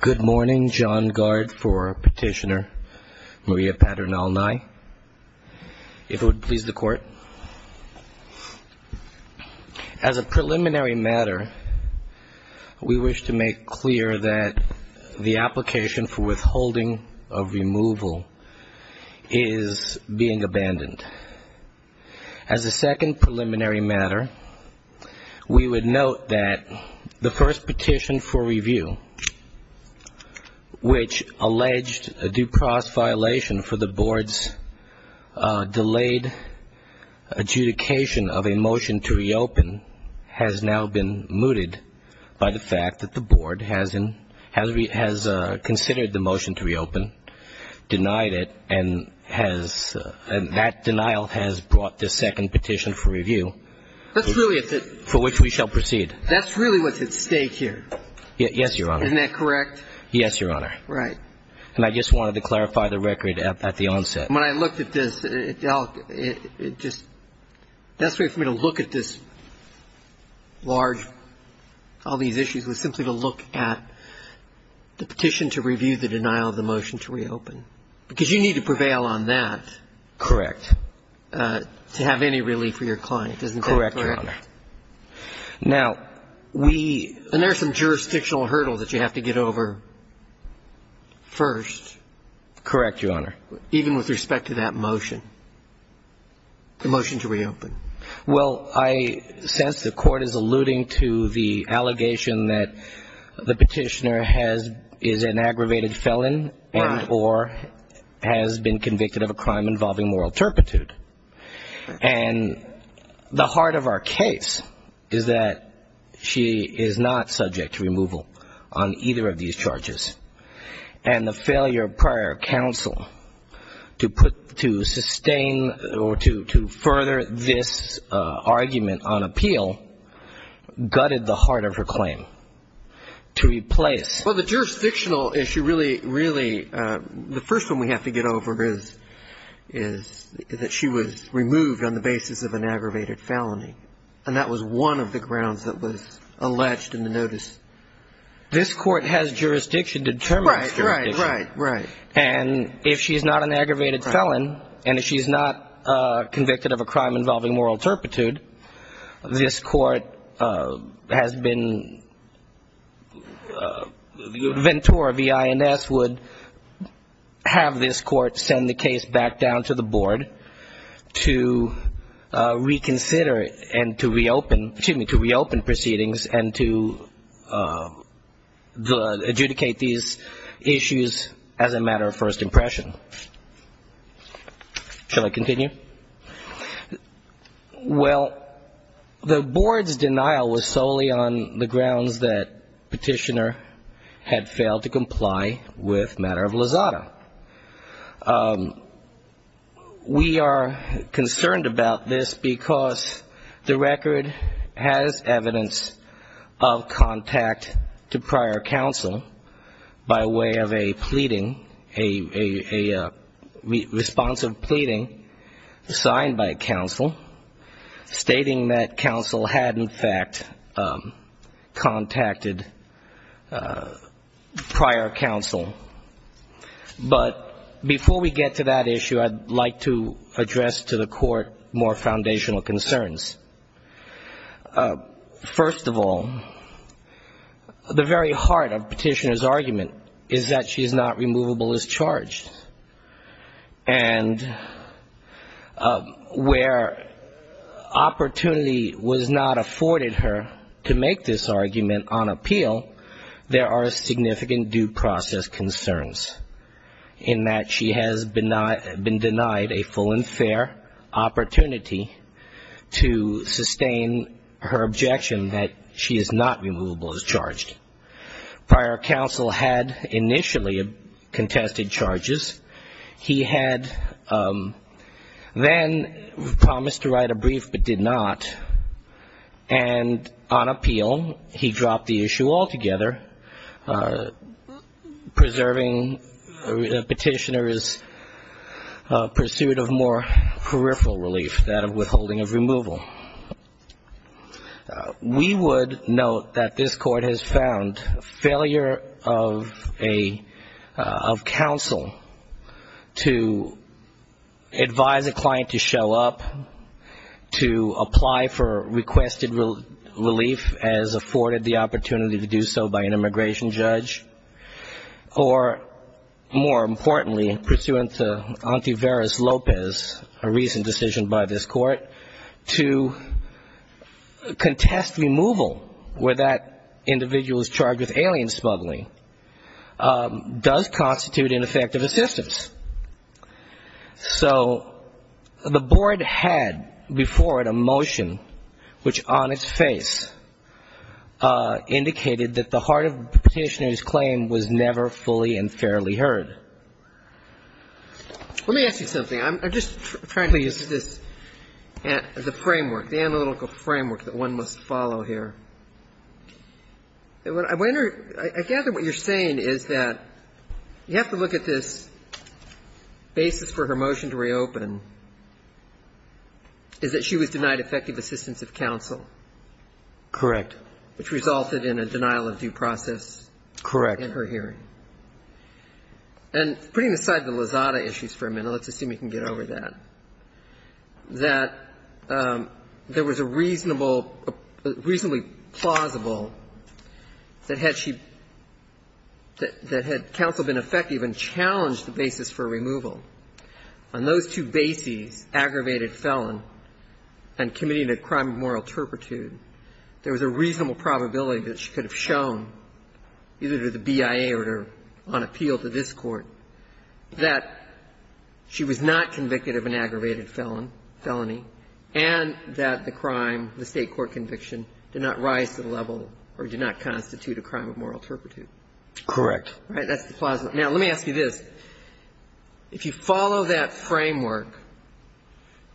Good morning. John Gard for Petitioner Maria Paernal-Nye. If it would please the Court. As a preliminary matter, we wish to make clear that the application for withholding of removal is being abandoned. As a second preliminary matter, we would note that the first petition for review, which alleged a due process violation for the Board's delayed adjudication of a motion to reopen, has now been mooted by the fact that the Board has considered the motion to reopen, denied it, and that denial has brought the second petition for review, for which we shall proceed. That's really what's at stake here. Yes, Your Honor. Isn't that correct? Yes, Your Honor. Right. And I just wanted to clarify the record at the onset. When I looked at this, it just – the best way for me to look at this large – all these issues was simply to look at the petition to review the denial of the motion to reopen. Because you need to prevail on that. Correct. To have any relief for your client, isn't that correct? Correct, Your Honor. Now, we – And there's some jurisdictional hurdles that you have to get over first. Correct, Your Honor. Even with respect to that motion, the motion to reopen. Well, I sense the Court is alluding to the allegation that the petitioner has – is an aggravator. The heart of our case is that she is not subject to removal on either of these charges. And the failure of prior counsel to put – to sustain or to further this argument on appeal gutted the heart of her claim to replace – Well, the jurisdictional issue really – really – the first one we have to get over is – is that she was removed on the basis of an aggravated felony. And that was one of the grounds that was alleged in the notice. This Court has jurisdiction to determine its jurisdiction. Right, right, right, right. And if she's not an aggravated felon, and if she's not convicted of a crime involving moral turpitude, this Court has been – Ventura, V-I-N-S, would have this Court send the case back down to the Board to reconsider and to reopen – excuse Well, the Board's denial was solely on the grounds that petitioner had failed to comply with matter of Lozada. We are concerned about this because the that counsel had, in fact, contacted prior counsel. But before we get to that issue, I'd like to address to the Court more foundational concerns. First of all, the very heart of petitioner's argument is that she is not removable as charged. And where opportunity was not afforded her to make this argument on appeal, there Prior counsel had initially contested charges. He had then promised to write a brief but did not. And on appeal, he dropped the issue altogether, preserving petitioner's pursuit of more peripheral relief, that of withholding of removal. We would note that this Court has found failure of a – of counsel to advise a pursuant to Antiveros-Lopez, a recent decision by this Court, to contest removal where that individual is charged with alien smuggling does constitute ineffective assistance. So the Board had before it a motion which, on its face, indicated that the heart of the petitioner's claim was never fully and fairly heard. Let me ask you something. I'm just trying to use this as a framework, the analytical framework that one must follow here. I gather what you're saying is that you have to look at this basis for her motion to reopen, is that she was denied effective assistance of counsel. Correct. Which resulted in a denial of due process. Correct. In her hearing. And putting aside the Lozada issues for a minute, let's assume you can get over that, that there was a reasonable – reasonably plausible that had she – that had counsel been effective and challenged the basis for removal, on those two bases, aggravated felon and committing a crime of moral turpitude, there was a reasonable probability that she could have shown, either to the BIA or to – on appeal to this Court, that she was not convicted of an aggravated felon – felony, and that the crime, the State court conviction, did not rise to the level or did not constitute a crime of moral turpitude. Correct. All right. That's the plausible. Now, let me ask you this. If you follow that framework,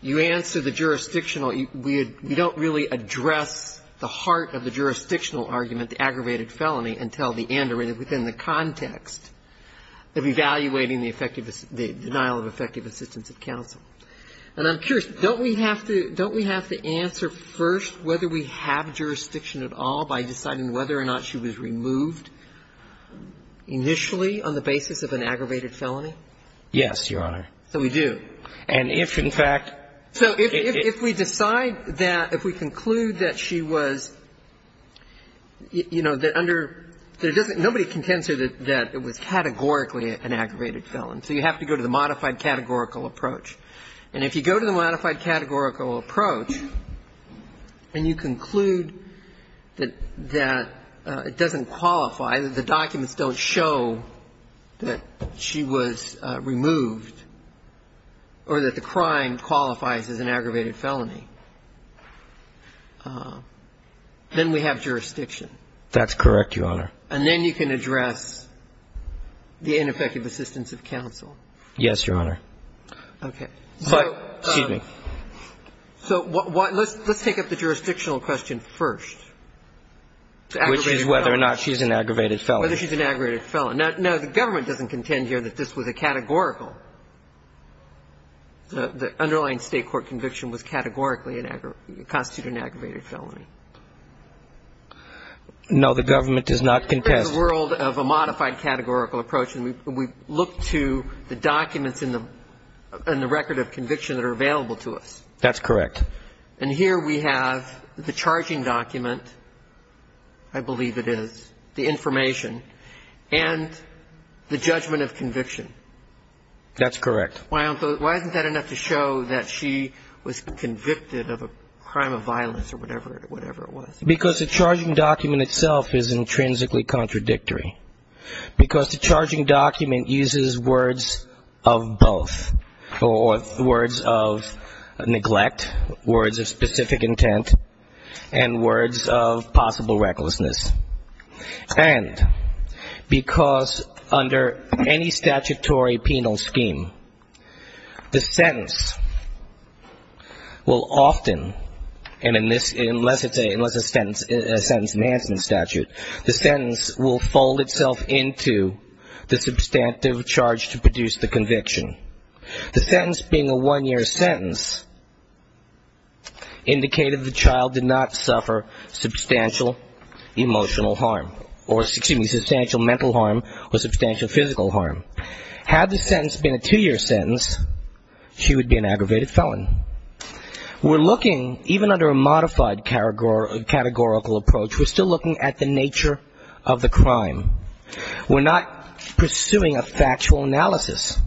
you answer the jurisdictional – we don't really address the heart of the jurisdictional argument, the aggravated felony, until the end or within the context of evaluating the effective – the denial of effective assistance of counsel. And I'm curious, don't we have to – don't we have to answer first whether we have jurisdiction at all by deciding whether or not she was removed initially on the basis of an aggravated felony? Yes, Your Honor. So we do. And if, in fact – So if we decide that – if we conclude that she was – you know, that under – there doesn't – nobody contends that it was categorically an aggravated felon. So you have to go to the modified categorical approach. And if you go to the modified categorical approach and you conclude that – that it doesn't qualify, that the documents don't show that she was removed or that the crime qualifies as an aggravated felony, then we have jurisdiction. That's correct, Your Honor. And then you can address the ineffective assistance of counsel. Yes, Your Honor. Okay. But – excuse me. So what – let's take up the jurisdictional question first. Which is whether or not she's an aggravated felony. Whether she's an aggravated felony. Now, the government doesn't contend here that this was a categorical – the underlying State court conviction was categorically an – constituted an aggravated felony. No, the government does not contest. In this world of a modified categorical approach, we look to the documents in the record of conviction that are available to us. That's correct. And here we have the charging document, I believe it is, the information, and the judgment of conviction. That's correct. Why isn't that enough to show that she was convicted of a crime of violence or whatever it was? Because the charging document itself is intrinsically contradictory. Because the charging document uses words of both. Words of neglect, words of specific intent, and words of possible recklessness. And because under any statutory penal scheme, the sentence will often – and unless it's a sentence in Hansen's statute – the sentence will fold itself into the substantive charge to produce the conviction. The sentence being a one-year sentence indicated the child did not suffer substantial emotional harm. Or, excuse me, substantial mental harm or substantial physical harm. Had the sentence been a two-year sentence, she would be an aggravated felon. We're looking, even under a modified categorical approach, we're still looking at the nature of the crime. We're not pursuing a factual analysis.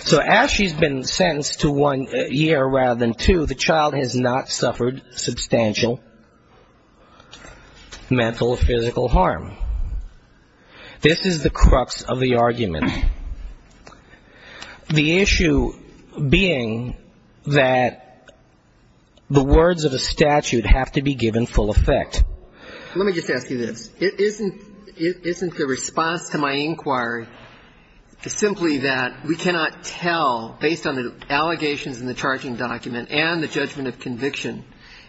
So as she's been sentenced to one year rather than two, the child has not suffered substantial mental or physical harm. This is the crux of the argument. The issue being that the words of a statute have to be given full effect. Let me just ask you this. Isn't the response to my inquiry simply that we cannot tell, based on the allegations in the charging document and the judgment of conviction,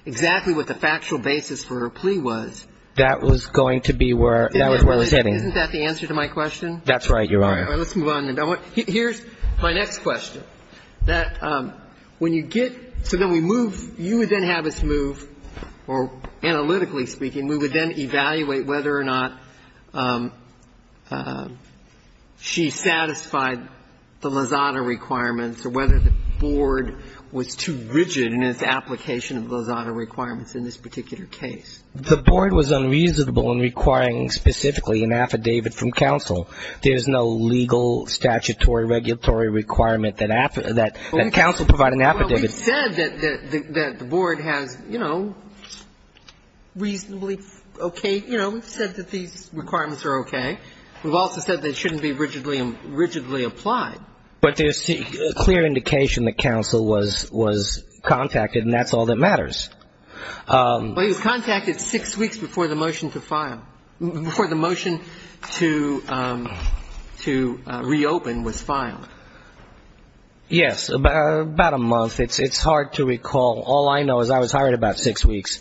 exactly what the factual basis for her plea was? That was going to be where – that was where I was heading. Isn't that the answer to my question? That's right, Your Honor. All right. Let's move on. Here's my next question. That when you get – so then we move – you would then have us move, or analytically speaking, we would then evaluate whether or not she satisfied the Lozada requirements or whether the board was too rigid in its application of Lozada requirements in this particular case. The board was unreasonable in requiring specifically an affidavit from counsel. There's no legal statutory regulatory requirement that counsel provide an affidavit. Well, we've said that the board has, you know, reasonably okay – you know, we've said that these requirements are okay. We've also said they shouldn't be rigidly applied. But there's clear indication that counsel was contacted, and that's all that matters. Well, he was contacted six weeks before the motion to file – before the motion to reopen was filed. Yes, about a month. It's hard to recall. All I know is I was hired about six weeks.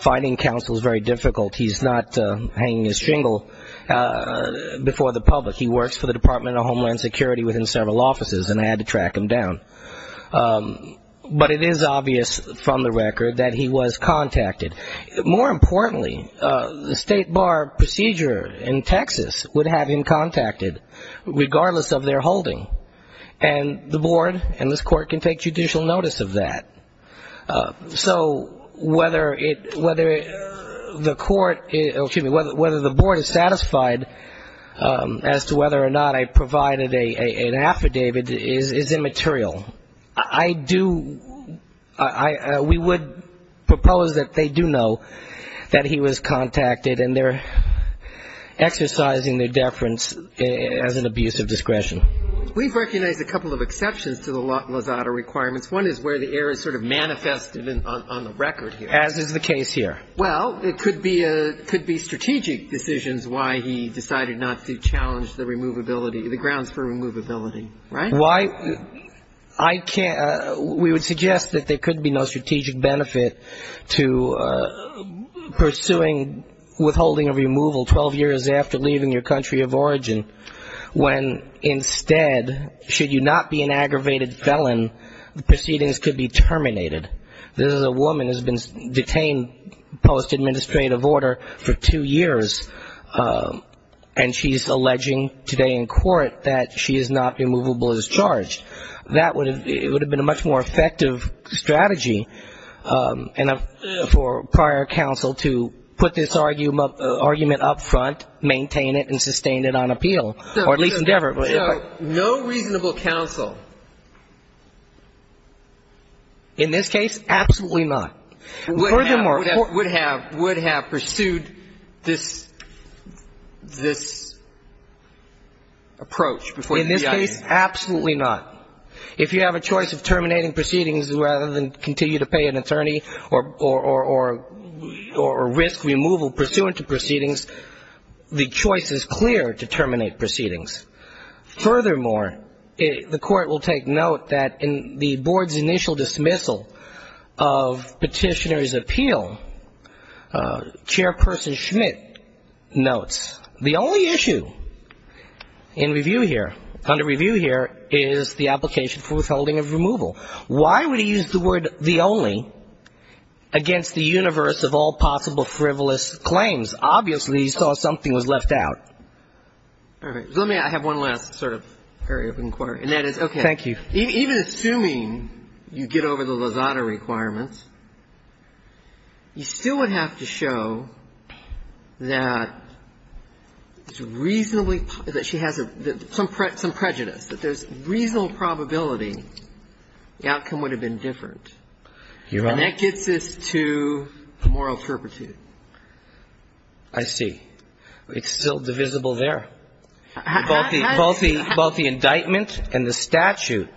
Finding counsel is very difficult. He's not hanging his shingle before the public. He works for the Department of Homeland Security within several offices, and I had to track him down. But it is obvious from the record that he was contacted. More importantly, the state bar procedure in Texas would have him contacted regardless of their holding, and the board and this court can take judicial notice of that. So whether it – whether the court – excuse me, whether the board is satisfied as to whether or not I provided an affidavit is immaterial. I do – we would propose that they do know that he was contacted, and they're exercising their deference as an abuse of discretion. We've recognized a couple of exceptions to the Lozada requirements. One is where the error is sort of manifested on the record here. As is the case here. Well, it could be a – could be strategic decisions why he decided not to challenge the removability – the grounds for removability, right? Why – I can't – we would suggest that there could be no strategic benefit to pursuing withholding a removal 12 years after leaving your country of origin, when instead, should you not be an aggravated felon, the proceedings could be terminated. This is a woman who's been detained post-administrative order for two years, and she's alleging today in court that she is not removable as charged. That would have – it would have been a much more effective strategy for prior counsel to put this argument up front, maintain it, and sustain it on appeal, or at least endeavor it. So no reasonable counsel? In this case, absolutely not. Furthermore – Would have – would have pursued this – this approach before you reacted. In this case, absolutely not. If you have a choice of terminating proceedings rather than continue to pay an attorney or risk removal pursuant to proceedings, the choice is clear to terminate proceedings. Furthermore, the court will take note that in the board's initial dismissal of petitioner's appeal, Chairperson Schmidt notes, the only issue in review here, under review here, is the application for withholding of removal. Why would he use the word the only against the universe of all possible frivolous claims? Obviously, he saw something was left out. All right. Let me – I have one last sort of area of inquiry, and that is – Okay. Thank you. Even assuming you get over the Lozada requirements, you still would have to show that it's reasonably – that she has some prejudice, that there's reasonable probability the outcome would have been different. You're right. And that gets us to the moral turpitude. I see. It's still divisible there. Both the – both the – both the indictment and the statute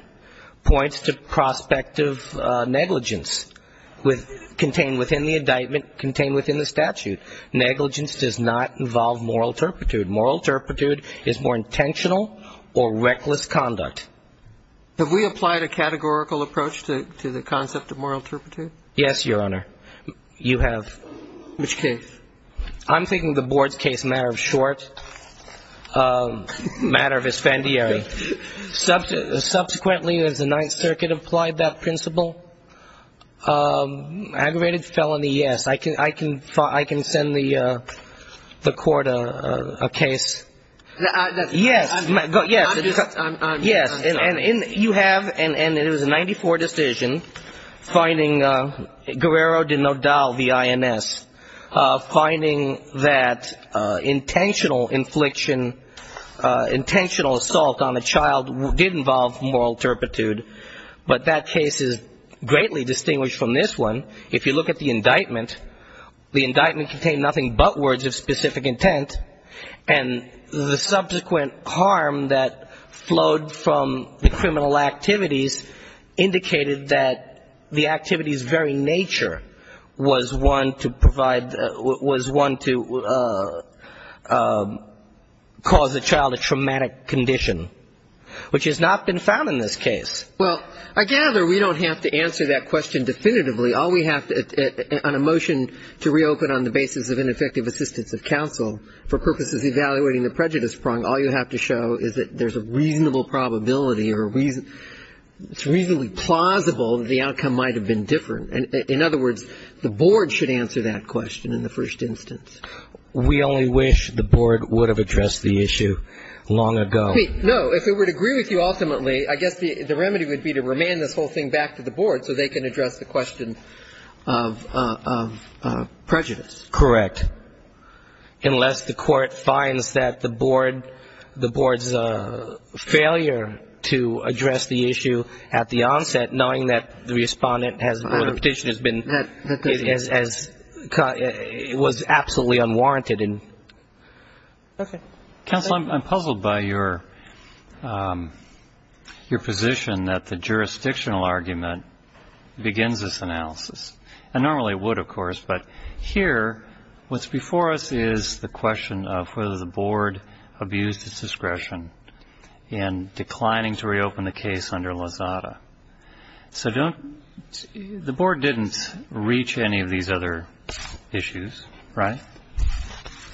points to prospective negligence with – contained within the indictment, contained within the statute. Negligence does not involve moral turpitude. Moral turpitude is more intentional or reckless conduct. Have we applied a categorical approach to the concept of moral turpitude? Yes, Your Honor. You have. Which case? I'm thinking the board's case, matter of short, matter of expandiary. Subsequently, has the Ninth Circuit applied that principle? Aggravated felony, yes. I can – I can – I can send the court a case. Yes. Yes. Yes. And you have, and it was a 94 decision, finding Guerrero de Nodal v. INS, finding that intentional infliction, intentional assault on a child did involve moral turpitude. But that case is greatly distinguished from this one. If you look at the indictment, the indictment contained nothing but words of specific intent. And the subsequent harm that flowed from the criminal activities indicated that the activity's very nature was one to provide – was one to cause the child a traumatic condition, which has not been found in this case. Well, I gather we don't have to answer that question definitively. All we have on a motion to reopen on the basis of ineffective assistance of counsel for purposes of evaluating the prejudice prong, all you have to show is that there's a reasonable probability or a reason – it's reasonably plausible that the outcome might have been different. In other words, the board should answer that question in the first instance. We only wish the board would have addressed the issue long ago. No. If it would agree with you ultimately, I guess the remedy would be to remand this whole thing back to the board so they can address the question of prejudice. Correct. Unless the court finds that the board's failure to address the issue at the onset, knowing that the Respondent has – or the Petitioner has been – was absolutely unwarranted. Okay. Counsel, I'm puzzled by your position that the jurisdictional argument begins this analysis. And normally it would, of course, but here what's before us is the question of whether the board abused its discretion in declining to reopen the case under Lozada. So don't – the board didn't reach any of these other issues, right?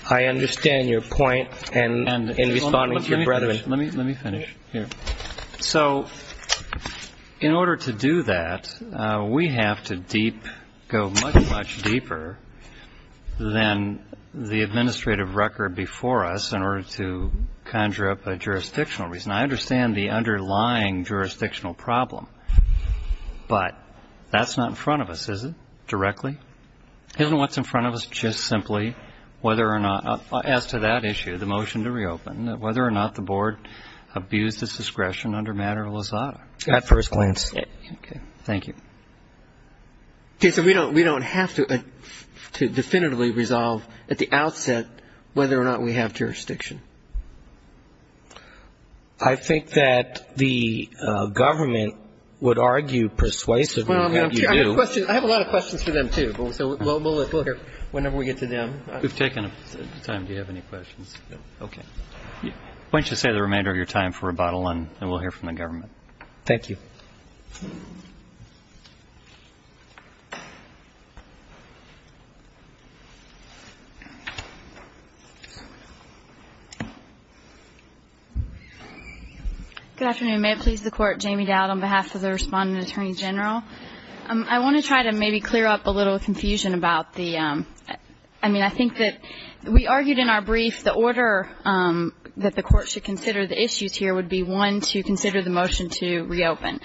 I understand your point in responding to your brethren. Let me finish. Here. So in order to do that, we have to go much, much deeper than the administrative record before us in order to conjure up a jurisdictional reason. I understand the underlying jurisdictional problem, but that's not in front of us, is it, directly? Isn't what's in front of us just simply whether or not – as to that issue, the motion to reopen, whether or not the board abused its discretion under matter of Lozada. At first glance. Okay. Thank you. Okay. So we don't have to definitively resolve at the outset whether or not we have jurisdiction. I think that the government would argue persuasively that you do. I have a lot of questions for them, too. So we'll hear whenever we get to them. We've taken time. Do you have any questions? No. Okay. Why don't you save the remainder of your time for rebuttal, and we'll hear from the government. Thank you. Good afternoon. May it please the Court. Jamie Dowd on behalf of the Respondent Attorney General. I want to try to maybe clear up a little confusion about the – I mean, I think that we argued in our brief the order that the Court should consider the issues here would be, one, to consider the motion to reopen,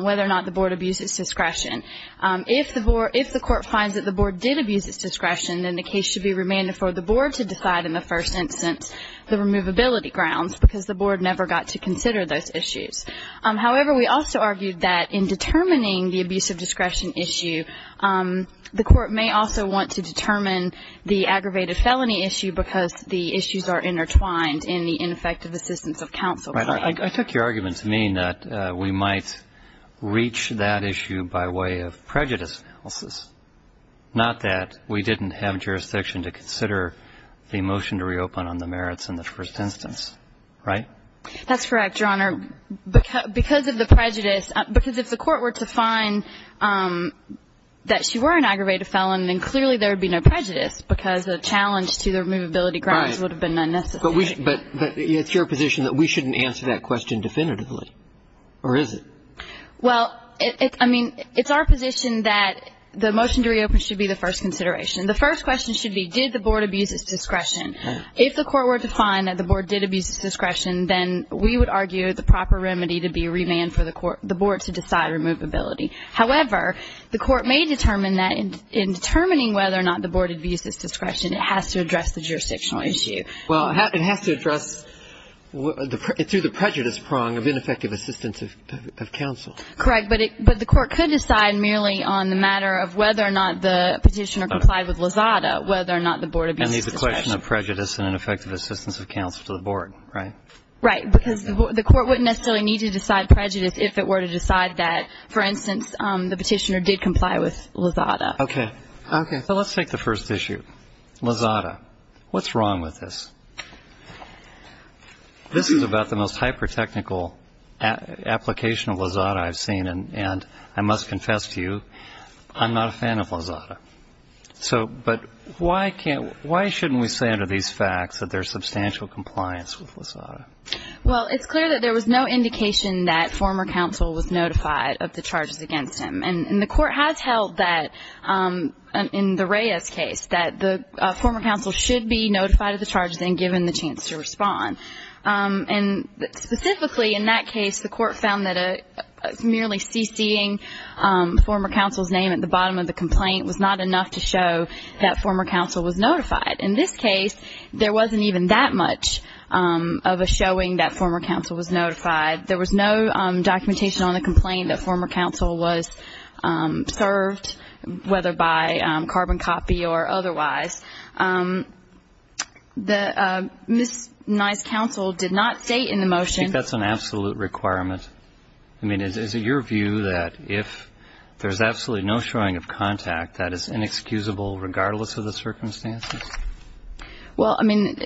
whether or not the board abused its discretion. If the board – if the Court finds that the board did abuse its discretion, then the case should be remanded for the board to decide in the first instance the removability grounds, because the board never got to consider those issues. However, we also argued that in determining the abuse of discretion issue, the Court may also want to determine the aggravated felony issue because the issues are intertwined in the ineffective assistance of counsel plan. Right. I took your argument to mean that we might reach that issue by way of prejudice analysis, not that we didn't have jurisdiction to consider the motion to reopen on the merits in the first instance. Right? That's correct, Your Honor. Because of the prejudice – because if the Court were to find that she were an aggravated felon, then clearly there would be no prejudice because the challenge to the removability grounds would have been unnecessary. But it's your position that we shouldn't answer that question definitively, or is it? Well, I mean, it's our position that the motion to reopen should be the first consideration. The first question should be, did the board abuse its discretion? If the Court were to find that the board did abuse its discretion, then we would argue the proper remedy to be a remand for the board to decide removability. However, the Court may determine that in determining whether or not the board abused its discretion, it has to address the jurisdictional issue. Well, it has to address through the prejudice prong of ineffective assistance of counsel. Correct. But the Court could decide merely on the matter of whether or not the petitioner complied with Lozada, whether or not the board abused its discretion. And it's a question of prejudice and ineffective assistance of counsel to the board, right? Right. Because the Court wouldn't necessarily need to decide prejudice if it were to decide that, for instance, the petitioner did comply with Lozada. Okay. So let's take the first issue, Lozada. What's wrong with this? This is about the most hyper-technical application of Lozada I've seen, and I must confess to you, I'm not a fan of Lozada. But why shouldn't we say under these facts that there's substantial compliance with Lozada? Well, it's clear that there was no indication that former counsel was notified of the charges against him. And the Court has held that, in the Reyes case, that the former counsel should be notified of the charges and given the chance to respond. And specifically in that case, the Court found that merely CC-ing former counsel's name at the bottom of the complaint was not enough to show that former counsel was notified. In this case, there wasn't even that much of a showing that former counsel was notified. There was no documentation on the complaint that former counsel was served, whether by carbon copy or otherwise. The misnized counsel did not state in the motion ---- I think that's an absolute requirement. I mean, is it your view that if there's absolutely no showing of contact, that is inexcusable regardless of the circumstances? Well, I mean,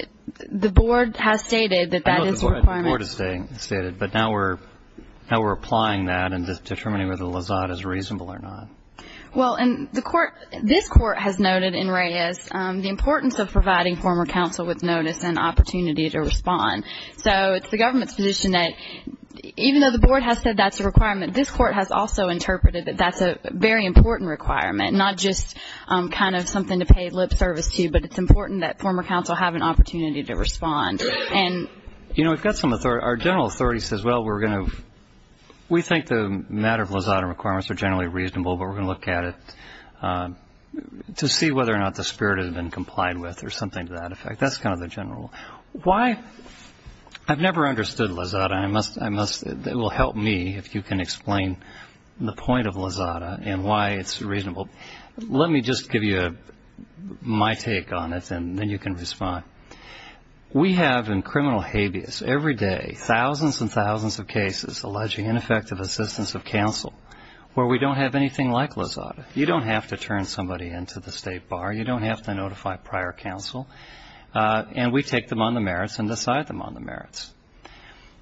the Board has stated that that is a requirement. I know the Board has stated, but now we're applying that and determining whether Lozada is reasonable or not. Well, and the Court, this Court has noted in Reyes the importance of providing former counsel with notice and opportunity to respond. So it's the government's position that even though the Board has said that's a requirement, this Court has also interpreted that that's a very important requirement, not just kind of something to pay lip service to, but it's important that former counsel have an opportunity to respond. And ---- You know, we've got some authority. Our general authority says, well, we're going to ---- we think the matter of Lozada requirements are generally reasonable, but we're going to look at it to see whether or not the spirit has been complied with or something to that effect. That's kind of the general. Why ---- I've never understood Lozada. I must ---- it will help me if you can explain the point of Lozada and why it's reasonable. Let me just give you my take on it, and then you can respond. We have in criminal habeas every day thousands and thousands of cases alleging ineffective assistance of counsel where we don't have anything like Lozada. You don't have to turn somebody into the State Bar. You don't have to notify prior counsel. And we take them on the merits and decide them on the merits.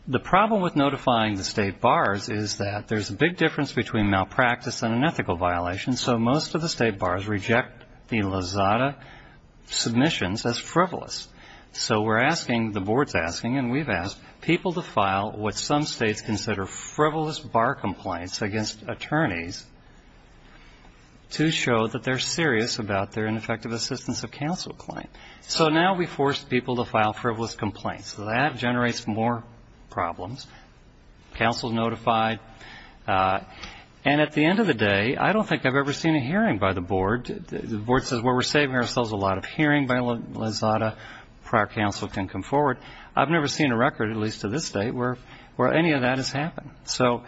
The problem with notifying the State Bars is that there's a big difference between malpractice and an ethical violation, so most of the State Bars reject the Lozada submissions as frivolous. So we're asking, the Board's asking, and we've asked people to file what some states consider frivolous bar complaints against attorneys to show that they're serious about their ineffective assistance of counsel claim. So now we force people to file frivolous complaints. That generates more problems. Counsel is notified. And at the end of the day, I don't think I've ever seen a hearing by the Board. The Board says, well, we're saving ourselves a lot of hearing by Lozada. Prior counsel can come forward. I've never seen a record, at least to this day, where any of that has happened. So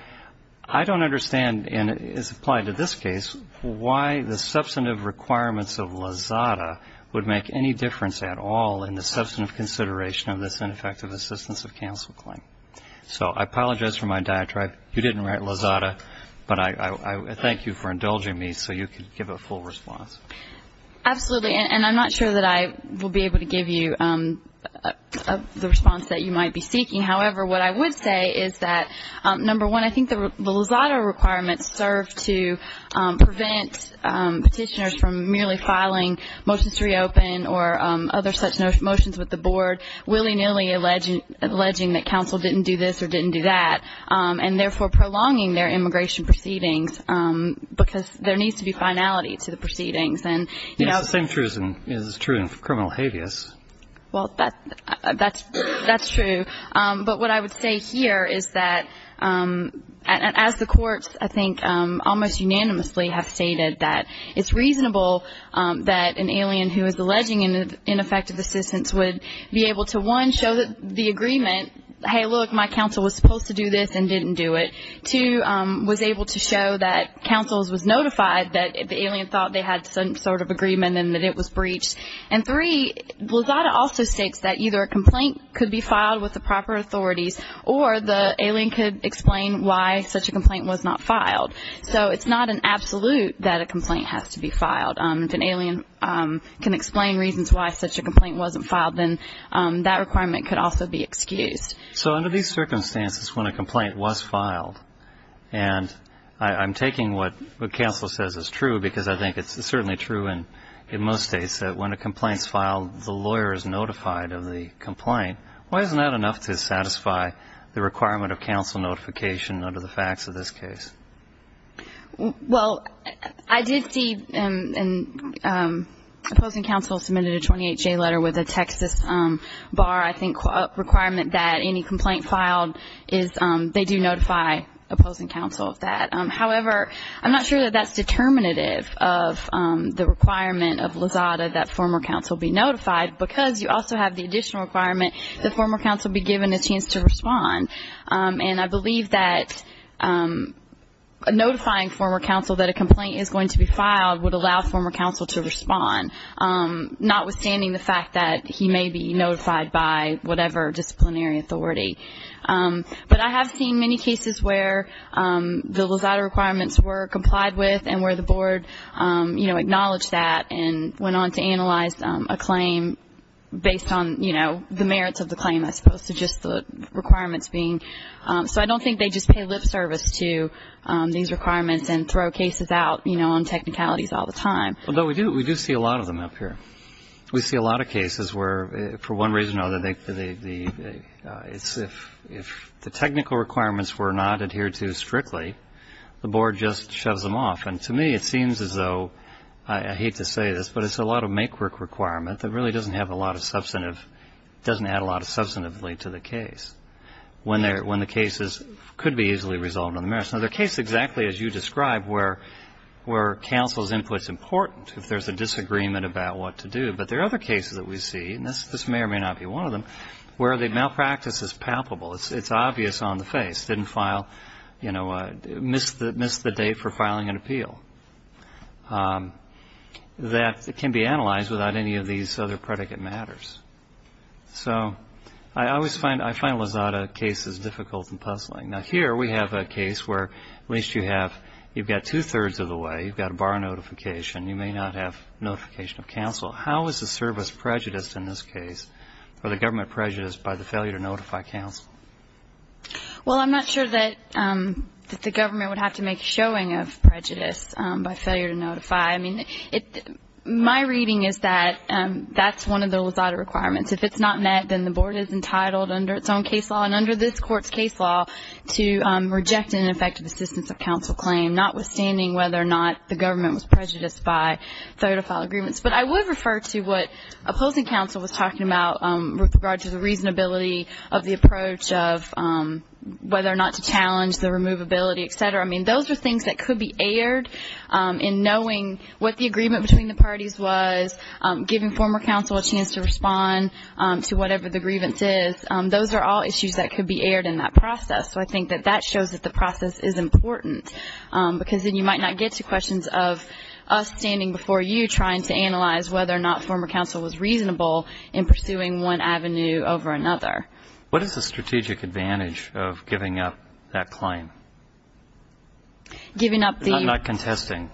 I don't understand, and it's applied to this case, why the substantive requirements of Lozada would make any difference at all in the substantive consideration of this ineffective assistance of counsel claim. So I apologize for my diatribe. You didn't write Lozada, but I thank you for indulging me so you could give a full response. Absolutely. And I'm not sure that I will be able to give you the response that you might be seeking. However, what I would say is that, number one, I think the Lozada requirements serve to prevent petitioners from merely filing motions to reopen or other such motions with the Board, willy-nilly alleging that counsel didn't do this or didn't do that, and therefore prolonging their immigration proceedings, because there needs to be finality to the proceedings. Yes, the same truth is true in criminal habeas. Well, that's true. But what I would say here is that, as the courts, I think, almost unanimously have stated that it's reasonable that an alien who is alleging ineffective assistance would be able to, one, show the agreement, hey, look, my counsel was supposed to do this and didn't do it. Two, was able to show that counsel was notified that the alien thought they had some sort of agreement and then that it was breached. And three, Lozada also states that either a complaint could be filed with the proper authorities or the alien could explain why such a complaint was not filed. So it's not an absolute that a complaint has to be filed. If an alien can explain reasons why such a complaint wasn't filed, then that requirement could also be excused. So under these circumstances, when a complaint was filed, and I'm taking what counsel says is true because I think it's certainly true in most states, that when a complaint is filed, the lawyer is notified of the complaint. Why isn't that enough to satisfy the requirement of counsel notification under the facts of this case? Well, I did see an opposing counsel submitted a 28-J letter with a Texas bar, I think, that any complaint filed, they do notify opposing counsel of that. However, I'm not sure that that's determinative of the requirement of Lozada that former counsel be notified. Because you also have the additional requirement that former counsel be given a chance to respond. And I believe that notifying former counsel that a complaint is going to be filed would allow former counsel to respond, notwithstanding the fact that he may be notified by whatever disciplinary authority. But I have seen many cases where the Lozada requirements were complied with and where the board acknowledged that and went on to analyze a claim based on the merits of the claim, as opposed to just the requirements being. So I don't think they just pay lip service to these requirements and throw cases out on technicalities all the time. Well, no, we do see a lot of them up here. We see a lot of cases where, for one reason or another, if the technical requirements were not adhered to strictly, the board just shoves them off. And to me, it seems as though, I hate to say this, but it's a lot of make-work requirement that really doesn't have a lot of substantive, doesn't add a lot of substantive weight to the case when the cases could be easily resolved on the merits. Now, there are cases, exactly as you described, where counsel's input is important, if there's a disagreement about what to do. But there are other cases that we see, and this may or may not be one of them, where the malpractice is palpable. It's obvious on the face, didn't file, you know, missed the date for filing an appeal. That can be analyzed without any of these other predicate matters. So I always find Lozada cases difficult and puzzling. Now, here we have a case where at least you have, you've got two-thirds of the way. You've got a bar notification. You may not have notification of counsel. How is the service prejudiced in this case, or the government prejudiced, by the failure to notify counsel? Well, I'm not sure that the government would have to make a showing of prejudice by failure to notify. I mean, my reading is that that's one of the Lozada requirements. If it's not met, then the board is entitled under its own case law. And under this court's case law, to reject an effective assistance of counsel claim, notwithstanding whether or not the government was prejudiced by failure to file agreements. But I would refer to what opposing counsel was talking about with regard to the reasonability of the approach of whether or not to challenge the removability, et cetera. I mean, those are things that could be aired in knowing what the agreement between the parties was, giving former counsel a chance to respond to whatever the grievance is. Those are all issues that could be aired in that process. So I think that that shows that the process is important, because then you might not get to questions of us standing before you trying to analyze whether or not former counsel was reasonable in pursuing one avenue over another. What is the strategic advantage of giving up that claim? I'm not contesting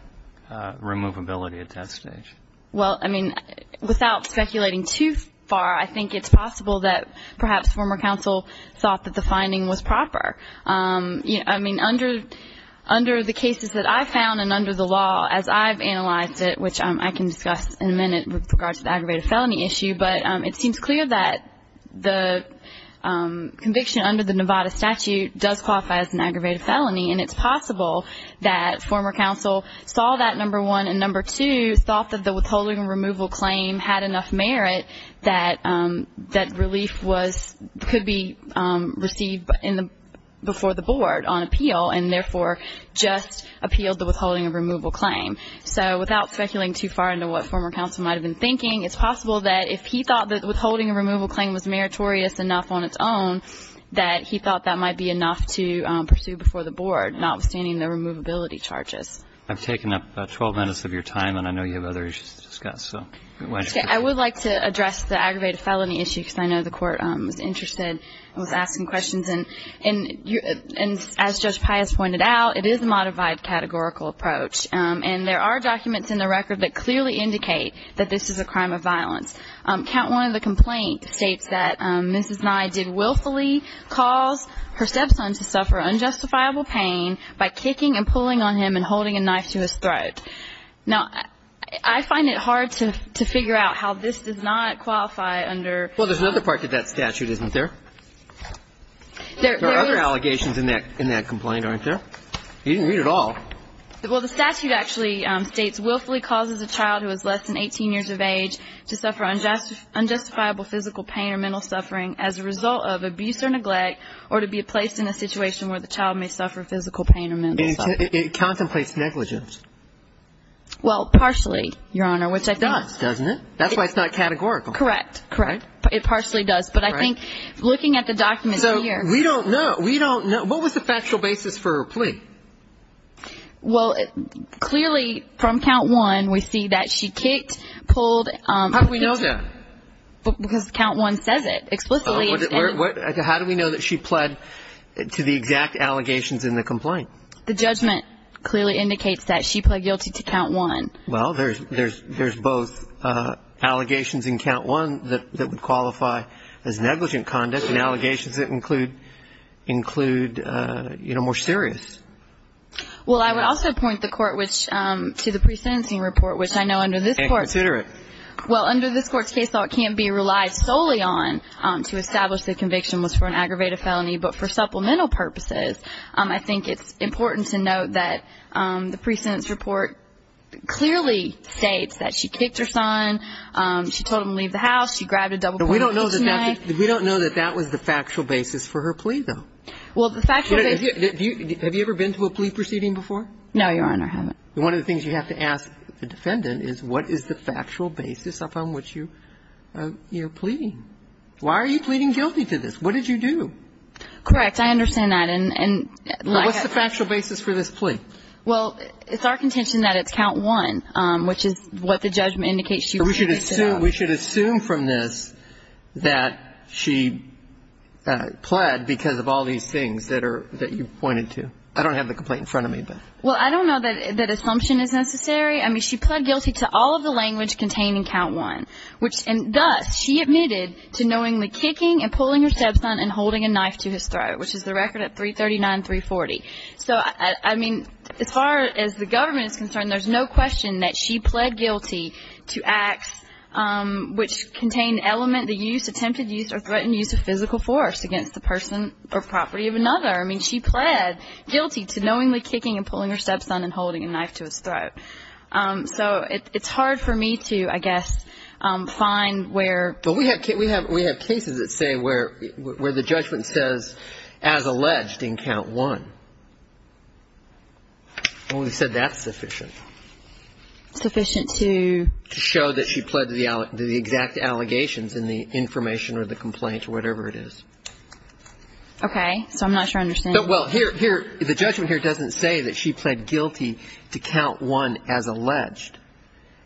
removability at that stage. Well, I mean, without speculating too far, I think it's possible that perhaps former counsel thought that the finding was proper. I mean, under the cases that I've found and under the law as I've analyzed it, which I can discuss in a minute with regard to the aggravated felony issue, but it seems clear that the conviction under the Nevada statute does qualify as an aggravated felony, and it's possible that former counsel saw that, number one, and, number two, thought that the withholding and removal claim had enough merit that relief could be received before the board on appeal and, therefore, just appealed the withholding and removal claim. So without speculating too far into what former counsel might have been thinking, it's possible that if he thought that withholding and removal claim was meritorious enough on its own, that he thought that might be enough to pursue before the board, notwithstanding the removability charges. I've taken up about 12 minutes of your time, and I know you have other issues to discuss. I would like to address the aggravated felony issue because I know the court was interested and was asking questions, and as Judge Pius pointed out, it is a modified categorical approach, and there are documents in the record that clearly indicate that this is a crime of violence. Count 1 of the complaint states that Mrs. Nye did willfully cause her stepson to suffer unjustifiable pain by kicking and pulling on him and holding a knife to his throat. Now, I find it hard to figure out how this does not qualify under ---- Well, there's another part to that statute, isn't there? There are other allegations in that complaint, aren't there? You didn't read it all. Well, the statute actually states willfully causes a child who is less than 18 years of age to suffer unjustifiable physical pain or mental suffering as a result of abuse or neglect or to be placed in a situation where the child may suffer physical pain or mental suffering. It contemplates negligence. Well, partially, Your Honor, which I think ---- It does, doesn't it? That's why it's not categorical. Correct, correct. It partially does, but I think looking at the documents here ---- So we don't know. We don't know. What was the factual basis for her plea? Well, clearly from count one we see that she kicked, pulled ---- How do we know that? Because count one says it explicitly. How do we know that she pled to the exact allegations in the complaint? The judgment clearly indicates that she pled guilty to count one. Well, there's both allegations in count one that would qualify as negligent conduct and allegations that include, you know, more serious. Well, I would also point the Court to the pre-sentencing report, which I know under this Court ---- And consider it. Well, under this Court's case law it can't be relied solely on to establish the conviction was for an aggravated felony, but for supplemental purposes I think it's important to note that the pre-sentence report clearly states that she kicked her son, she told him to leave the house, she grabbed a double-pointed knife. We don't know that that was the factual basis for her plea, though. Well, the factual basis ---- Have you ever been to a plea proceeding before? No, Your Honor, I haven't. One of the things you have to ask the defendant is what is the factual basis upon which you're pleading? Why are you pleading guilty to this? What did you do? Correct. I understand that. What's the factual basis for this plea? We should assume from this that she pled because of all these things that you pointed to. I don't have the complaint in front of me, but ---- Well, I don't know that assumption is necessary. I mean, she pled guilty to all of the language contained in count one, which ---- and thus she admitted to knowingly kicking and pulling her stepson and holding a knife to his throat, which is the record at 339-340. So, I mean, as far as the government is concerned, there's no question that she pled guilty to acts which contain element that used attempted use or threatened use of physical force against the person or property of another. I mean, she pled guilty to knowingly kicking and pulling her stepson and holding a knife to his throat. So it's hard for me to, I guess, find where ---- The judgment says as alleged in count one. Well, we said that's sufficient. Sufficient to? To show that she pled to the exact allegations in the information or the complaint or whatever it is. Okay. So I'm not sure I understand. Well, here, the judgment here doesn't say that she pled guilty to count one as alleged.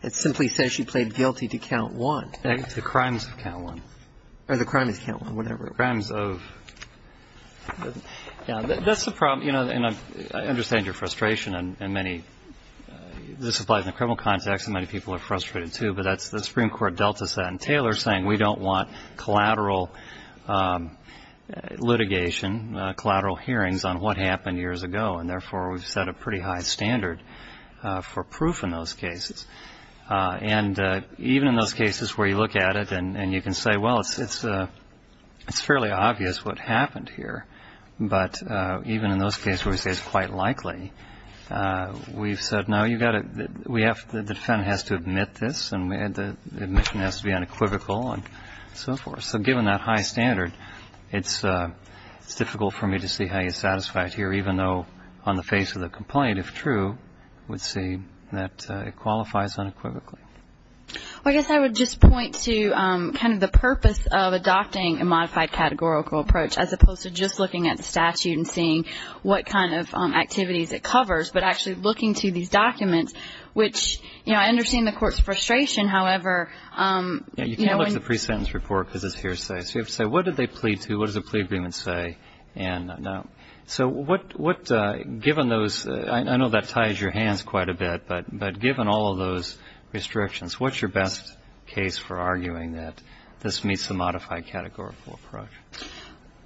It simply says she pled guilty to count one. The crimes of count one. Or the crimes of count one, whatever. The crimes of ---- Yeah, that's the problem. You know, and I understand your frustration in many ---- This applies in the criminal context, and many people are frustrated, too. But that's the Supreme Court delta set. And Taylor is saying we don't want collateral litigation, collateral hearings on what happened years ago. And, therefore, we've set a pretty high standard for proof in those cases. And even in those cases where you look at it and you can say, well, it's fairly obvious what happened here. But even in those cases where we say it's quite likely, we've said, no, you've got to ---- The defendant has to admit this, and the admission has to be unequivocal and so forth. So given that high standard, it's difficult for me to see how you satisfy it here, even though on the face of the complaint, if true, would say that it qualifies unequivocally. Well, I guess I would just point to kind of the purpose of adopting a modified categorical approach as opposed to just looking at the statute and seeing what kind of activities it covers, but actually looking to these documents, which, you know, I understand the Court's frustration. However, you know, when ---- Yeah, you can't look at the pre-sentence report because it's hearsay. So you have to say what did they plead to, what does the plea agreement say, and no. So what, given those, I know that ties your hands quite a bit, but given all of those restrictions, what's your best case for arguing that this meets the modified categorical approach?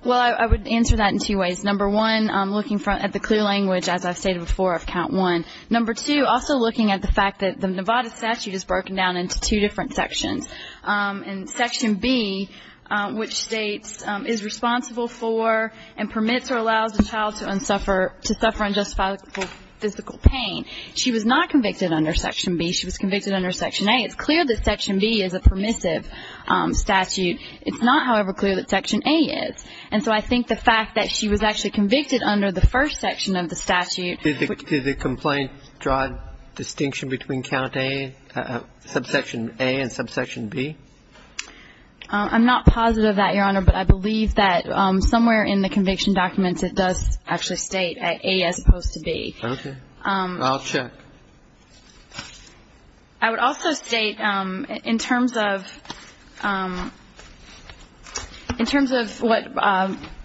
Well, I would answer that in two ways. Number one, looking at the clear language, as I've stated before, of count one. Number two, also looking at the fact that the Nevada statute is broken down into two different sections. And section B, which states, is responsible for and permits or allows a child to suffer unjustifiable physical pain. She was not convicted under section B. She was convicted under section A. It's clear that section B is a permissive statute. It's not, however, clear that section A is. And so I think the fact that she was actually convicted under the first section of the statute ---- I'm not positive that, Your Honor. But I believe that somewhere in the conviction documents it does actually state A as opposed to B. Okay. I'll check. I would also state, in terms of what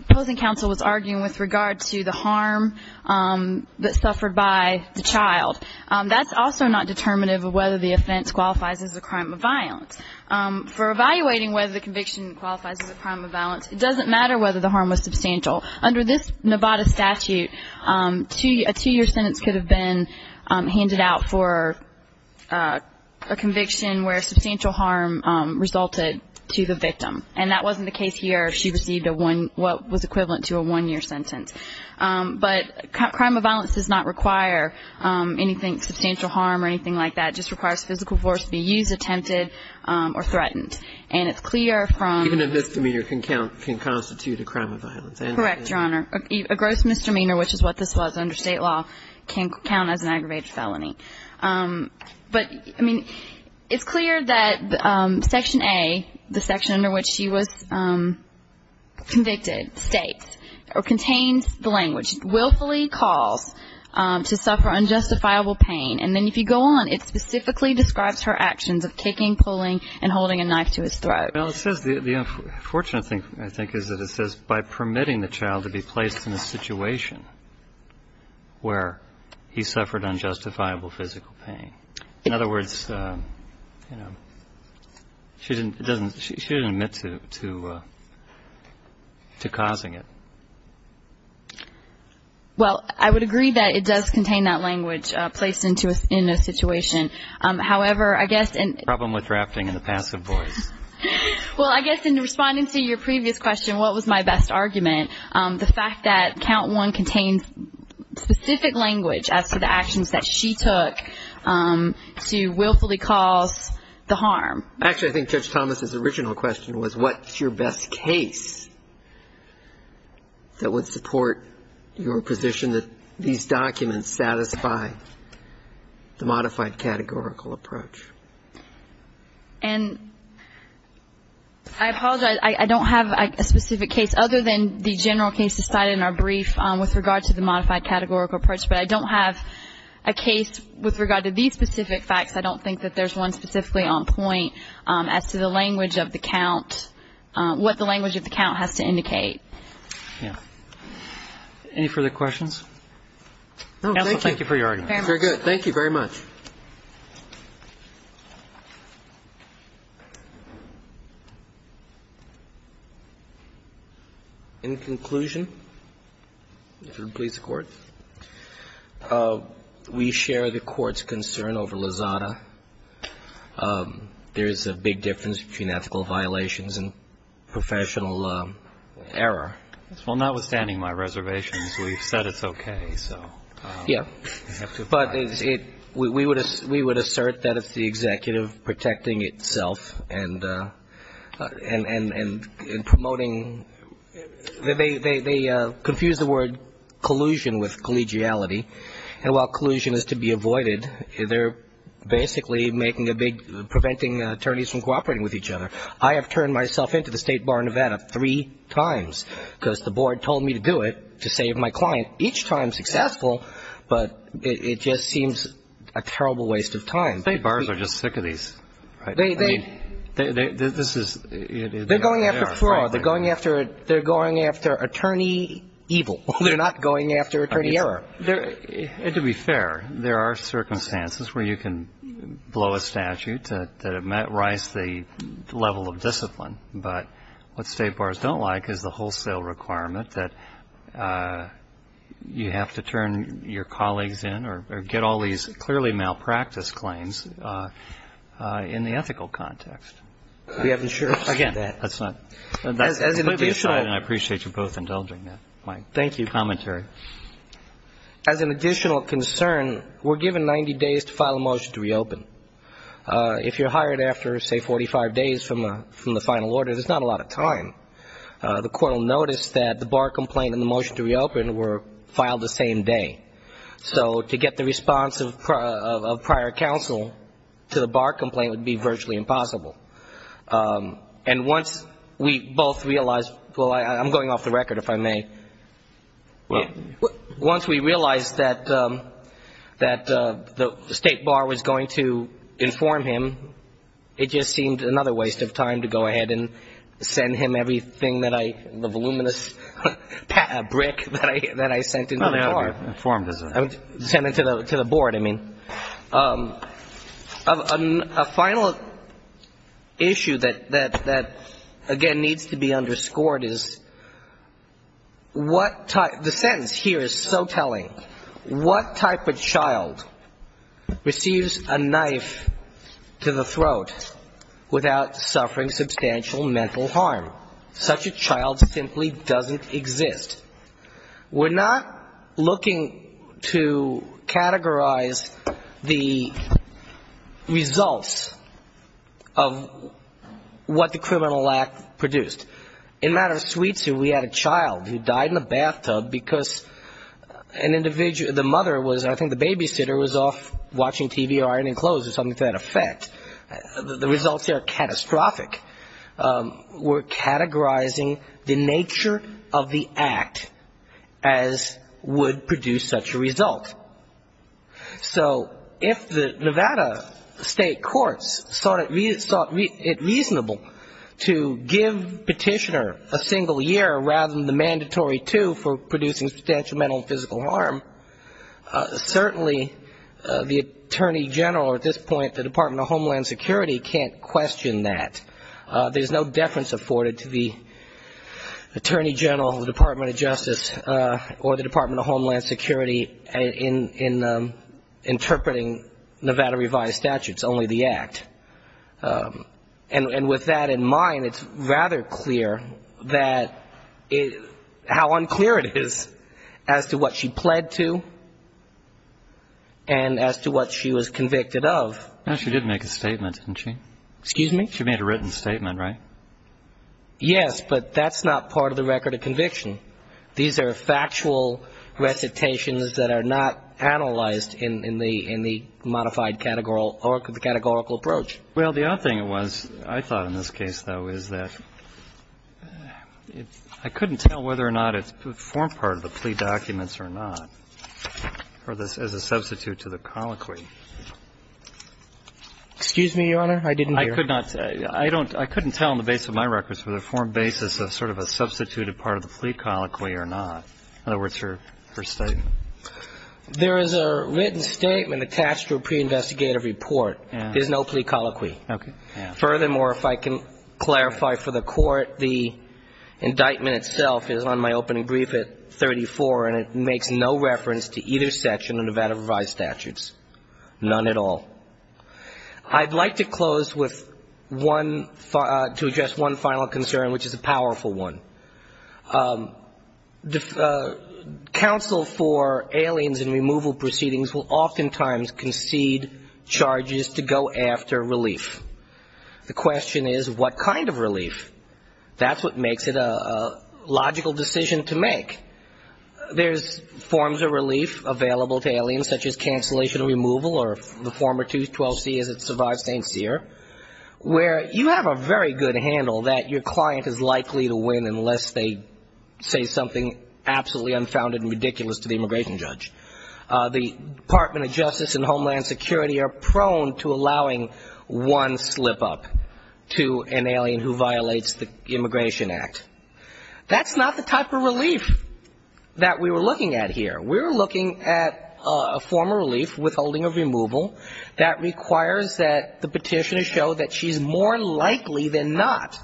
opposing counsel was arguing with regard to the harm that suffered by the child, that's also not determinative of whether the offense qualifies as a crime of violence. For evaluating whether the conviction qualifies as a crime of violence, it doesn't matter whether the harm was substantial. Under this Nevada statute, a two-year sentence could have been handed out for a conviction where substantial harm resulted to the victim. And that wasn't the case here. She received what was equivalent to a one-year sentence. But crime of violence does not require anything substantial harm or anything like that. It just requires physical force to be used, attempted, or threatened. And it's clear from ---- Even a misdemeanor can constitute a crime of violence. Correct, Your Honor. A gross misdemeanor, which is what this was under state law, can count as an aggravated felony. But, I mean, it's clear that Section A, the section under which she was convicted, states, or contains the language, willfully calls to suffer unjustifiable pain. And then if you go on, it specifically describes her actions of kicking, pulling, and holding a knife to his throat. Well, it says the unfortunate thing, I think, is that it says, by permitting the child to be placed in a situation where he suffered unjustifiable physical pain. In other words, you know, she didn't admit to causing it. Well, I would agree that it does contain that language, placed in a situation. However, I guess in ---- The problem with drafting in the passive voice. Well, I guess in responding to your previous question, what was my best argument, the fact that count one contains specific language as to the actions that she took to willfully cause the harm. Actually, I think Judge Thomas' original question was, what's your best case that would support your position that these documents satisfy the modified categorical approach? And I apologize. I don't have a specific case other than the general case decided in our brief with regard to the modified categorical approach. But I don't have a case with regard to these specific facts. I don't think that there's one specifically on point as to the language of the count, what the language of the count has to indicate. Yeah. Any further questions? No, thank you. Thank you for your argument. Very good. Thank you very much. In conclusion, if it would please the Court. We share the Court's concern over Lozada. There is a big difference between ethical violations and professional error. Well, notwithstanding my reservations, we've said it's okay. Yeah. But we would assert that it's the executive protecting itself and promoting. They confuse the word collusion with collegiality. And while collusion is to be avoided, they're basically making a big, preventing attorneys from cooperating with each other. I have turned myself in to the State Bar of Nevada three times because the board told me to do it to save my client, each time successful, but it just seems a terrible waste of time. The State Bars are just sick of these, right? They're going after fraud. They're going after attorney evil. They're not going after attorney error. To be fair, there are circumstances where you can blow a statute that might rise the level of discipline. But what State Bars don't like is the wholesale requirement that you have to turn your colleagues in or get all these clearly malpracticed claims in the ethical context. We haven't shared that. Again, that's not. And I appreciate you both indulging that. Thank you. Commentary. As an additional concern, we're given 90 days to file a motion to reopen. If you're hired after, say, 45 days from the final order, there's not a lot of time. The court will notice that the bar complaint and the motion to reopen were filed the same day. So to get the response of prior counsel to the bar complaint would be virtually impossible. And once we both realized, well, I'm going off the record, if I may. Once we realized that the State Bar was going to inform him, it just seemed another waste of time to go ahead and send him everything that I, the voluminous brick that I sent to the bar. No, they already informed us. Sent it to the board, I mean. A final issue that, again, needs to be underscored is the sentence here is so telling. What type of child receives a knife to the throat without suffering substantial mental harm? Such a child simply doesn't exist. We're not looking to categorize the results of what the criminal act produced. In the matter of Sweetsu, we had a child who died in a bathtub because an individual, the mother was, I think the babysitter was off watching TV or ironing clothes or something to that effect. The results here are catastrophic. We're categorizing the nature of the act as would produce such a result. So if the Nevada state courts saw it reasonable to give petitioner a single year rather than the mandatory two for producing substantial mental and physical harm, certainly the Attorney General or at this point the Department of Homeland Security can't question that. There's no deference afforded to the Attorney General of the Department of Justice or the Department of Homeland Security in interpreting Nevada revised statutes, only the act. And with that in mind, it's rather clear that how unclear it is as to what she pled to and as to what she was convicted of. No, she did make a statement, didn't she? Excuse me? She made a written statement, right? Yes, but that's not part of the record of conviction. These are factual recitations that are not analyzed in the modified categorical approach. Well, the other thing it was, I thought in this case, though, is that I couldn't tell whether or not it's a form part of the plea documents or not, or as a substitute to the colloquy. Excuse me, Your Honor? I didn't hear. I couldn't tell on the basis of my records whether it formed basis of sort of a substituted part of the plea colloquy or not. In other words, her statement. There is a written statement attached to a pre-investigative report. There's no plea colloquy. Okay. Furthermore, if I can clarify for the Court, the indictment itself is on my opening brief at 34, and it makes no reference to either section of Nevada revised statutes, none at all. I'd like to close with one, to address one final concern, which is a powerful one. Counsel for aliens in removal proceedings will oftentimes concede charges to go after relief. The question is, what kind of relief? That's what makes it a logical decision to make. There's forms of relief available to aliens, such as cancellation of removal, or the former 212C as it survives St. Cyr, where you have a very good handle that your client is likely to win unless they say something absolutely unfounded and ridiculous to the immigration judge. The Department of Justice and Homeland Security are prone to allowing one slip-up to an alien who violates the Immigration Act. That's not the type of relief that we were looking at here. We were looking at a form of relief, withholding of removal, that requires that the petitioner show that she's more likely than not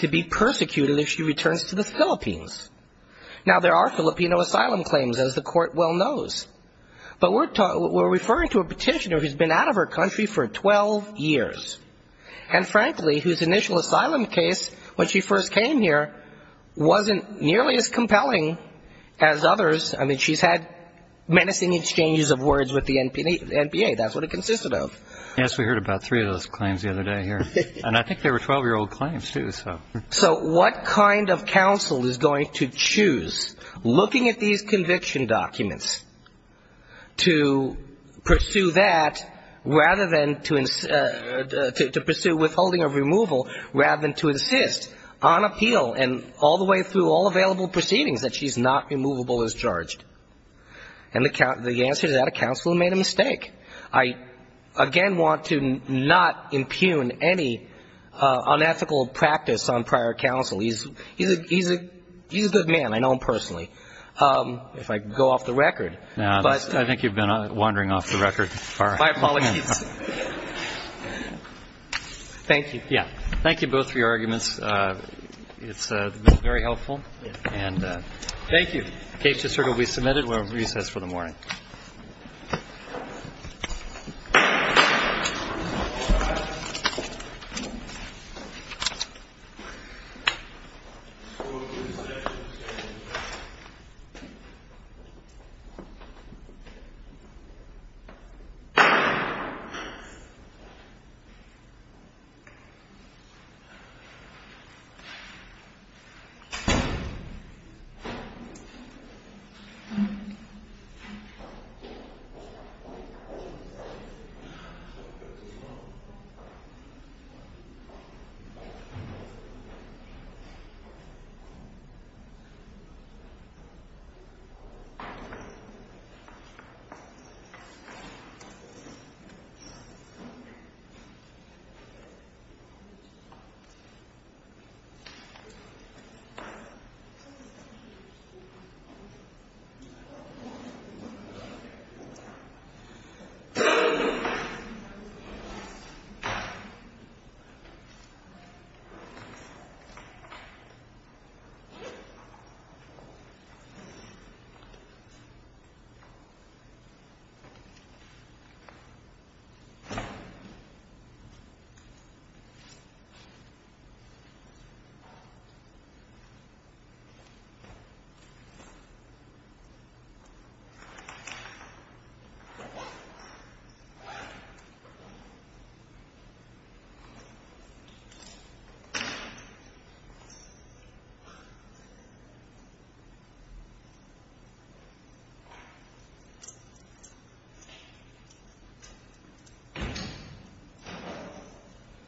to be persecuted if she returns to the Philippines. Now, there are Filipino asylum claims, as the Court well knows, but we're referring to a petitioner who's been out of her country for 12 years, and frankly, whose initial asylum case, when she first came here, wasn't nearly as compelling as others. I mean, she's had menacing exchanges of words with the NPA. That's what it consisted of. Yes, we heard about three of those claims the other day here. And I think they were 12-year-old claims, too. So what kind of counsel is going to choose, looking at these conviction documents, to pursue that, rather than to pursue withholding of removal, rather than to insist on appeal, and all the way through all available proceedings, that she's not removable as charged? And the answer to that, a counsel who made a mistake. I, again, want to not impugn any unethical practice on prior counsel. He's a good man. I know him personally. If I go off the record. No, I think you've been wandering off the record. My apologies. Thank you. Yeah. Thank you both for your arguments. It's been very helpful. And thank you. The case is certainly to be submitted. We'll recess for the morning. Thank you. Thank you. Thank you. Thank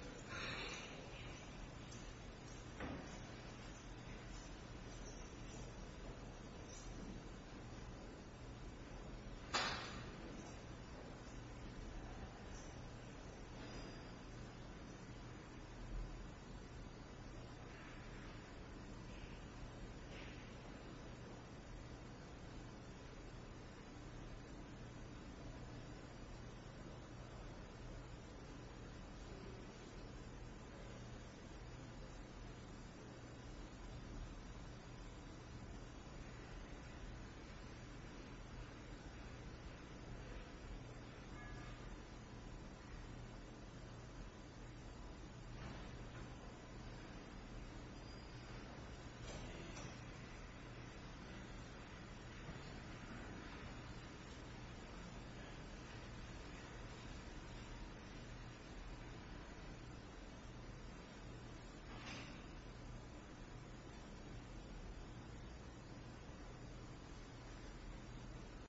you. Thank you. Thank you.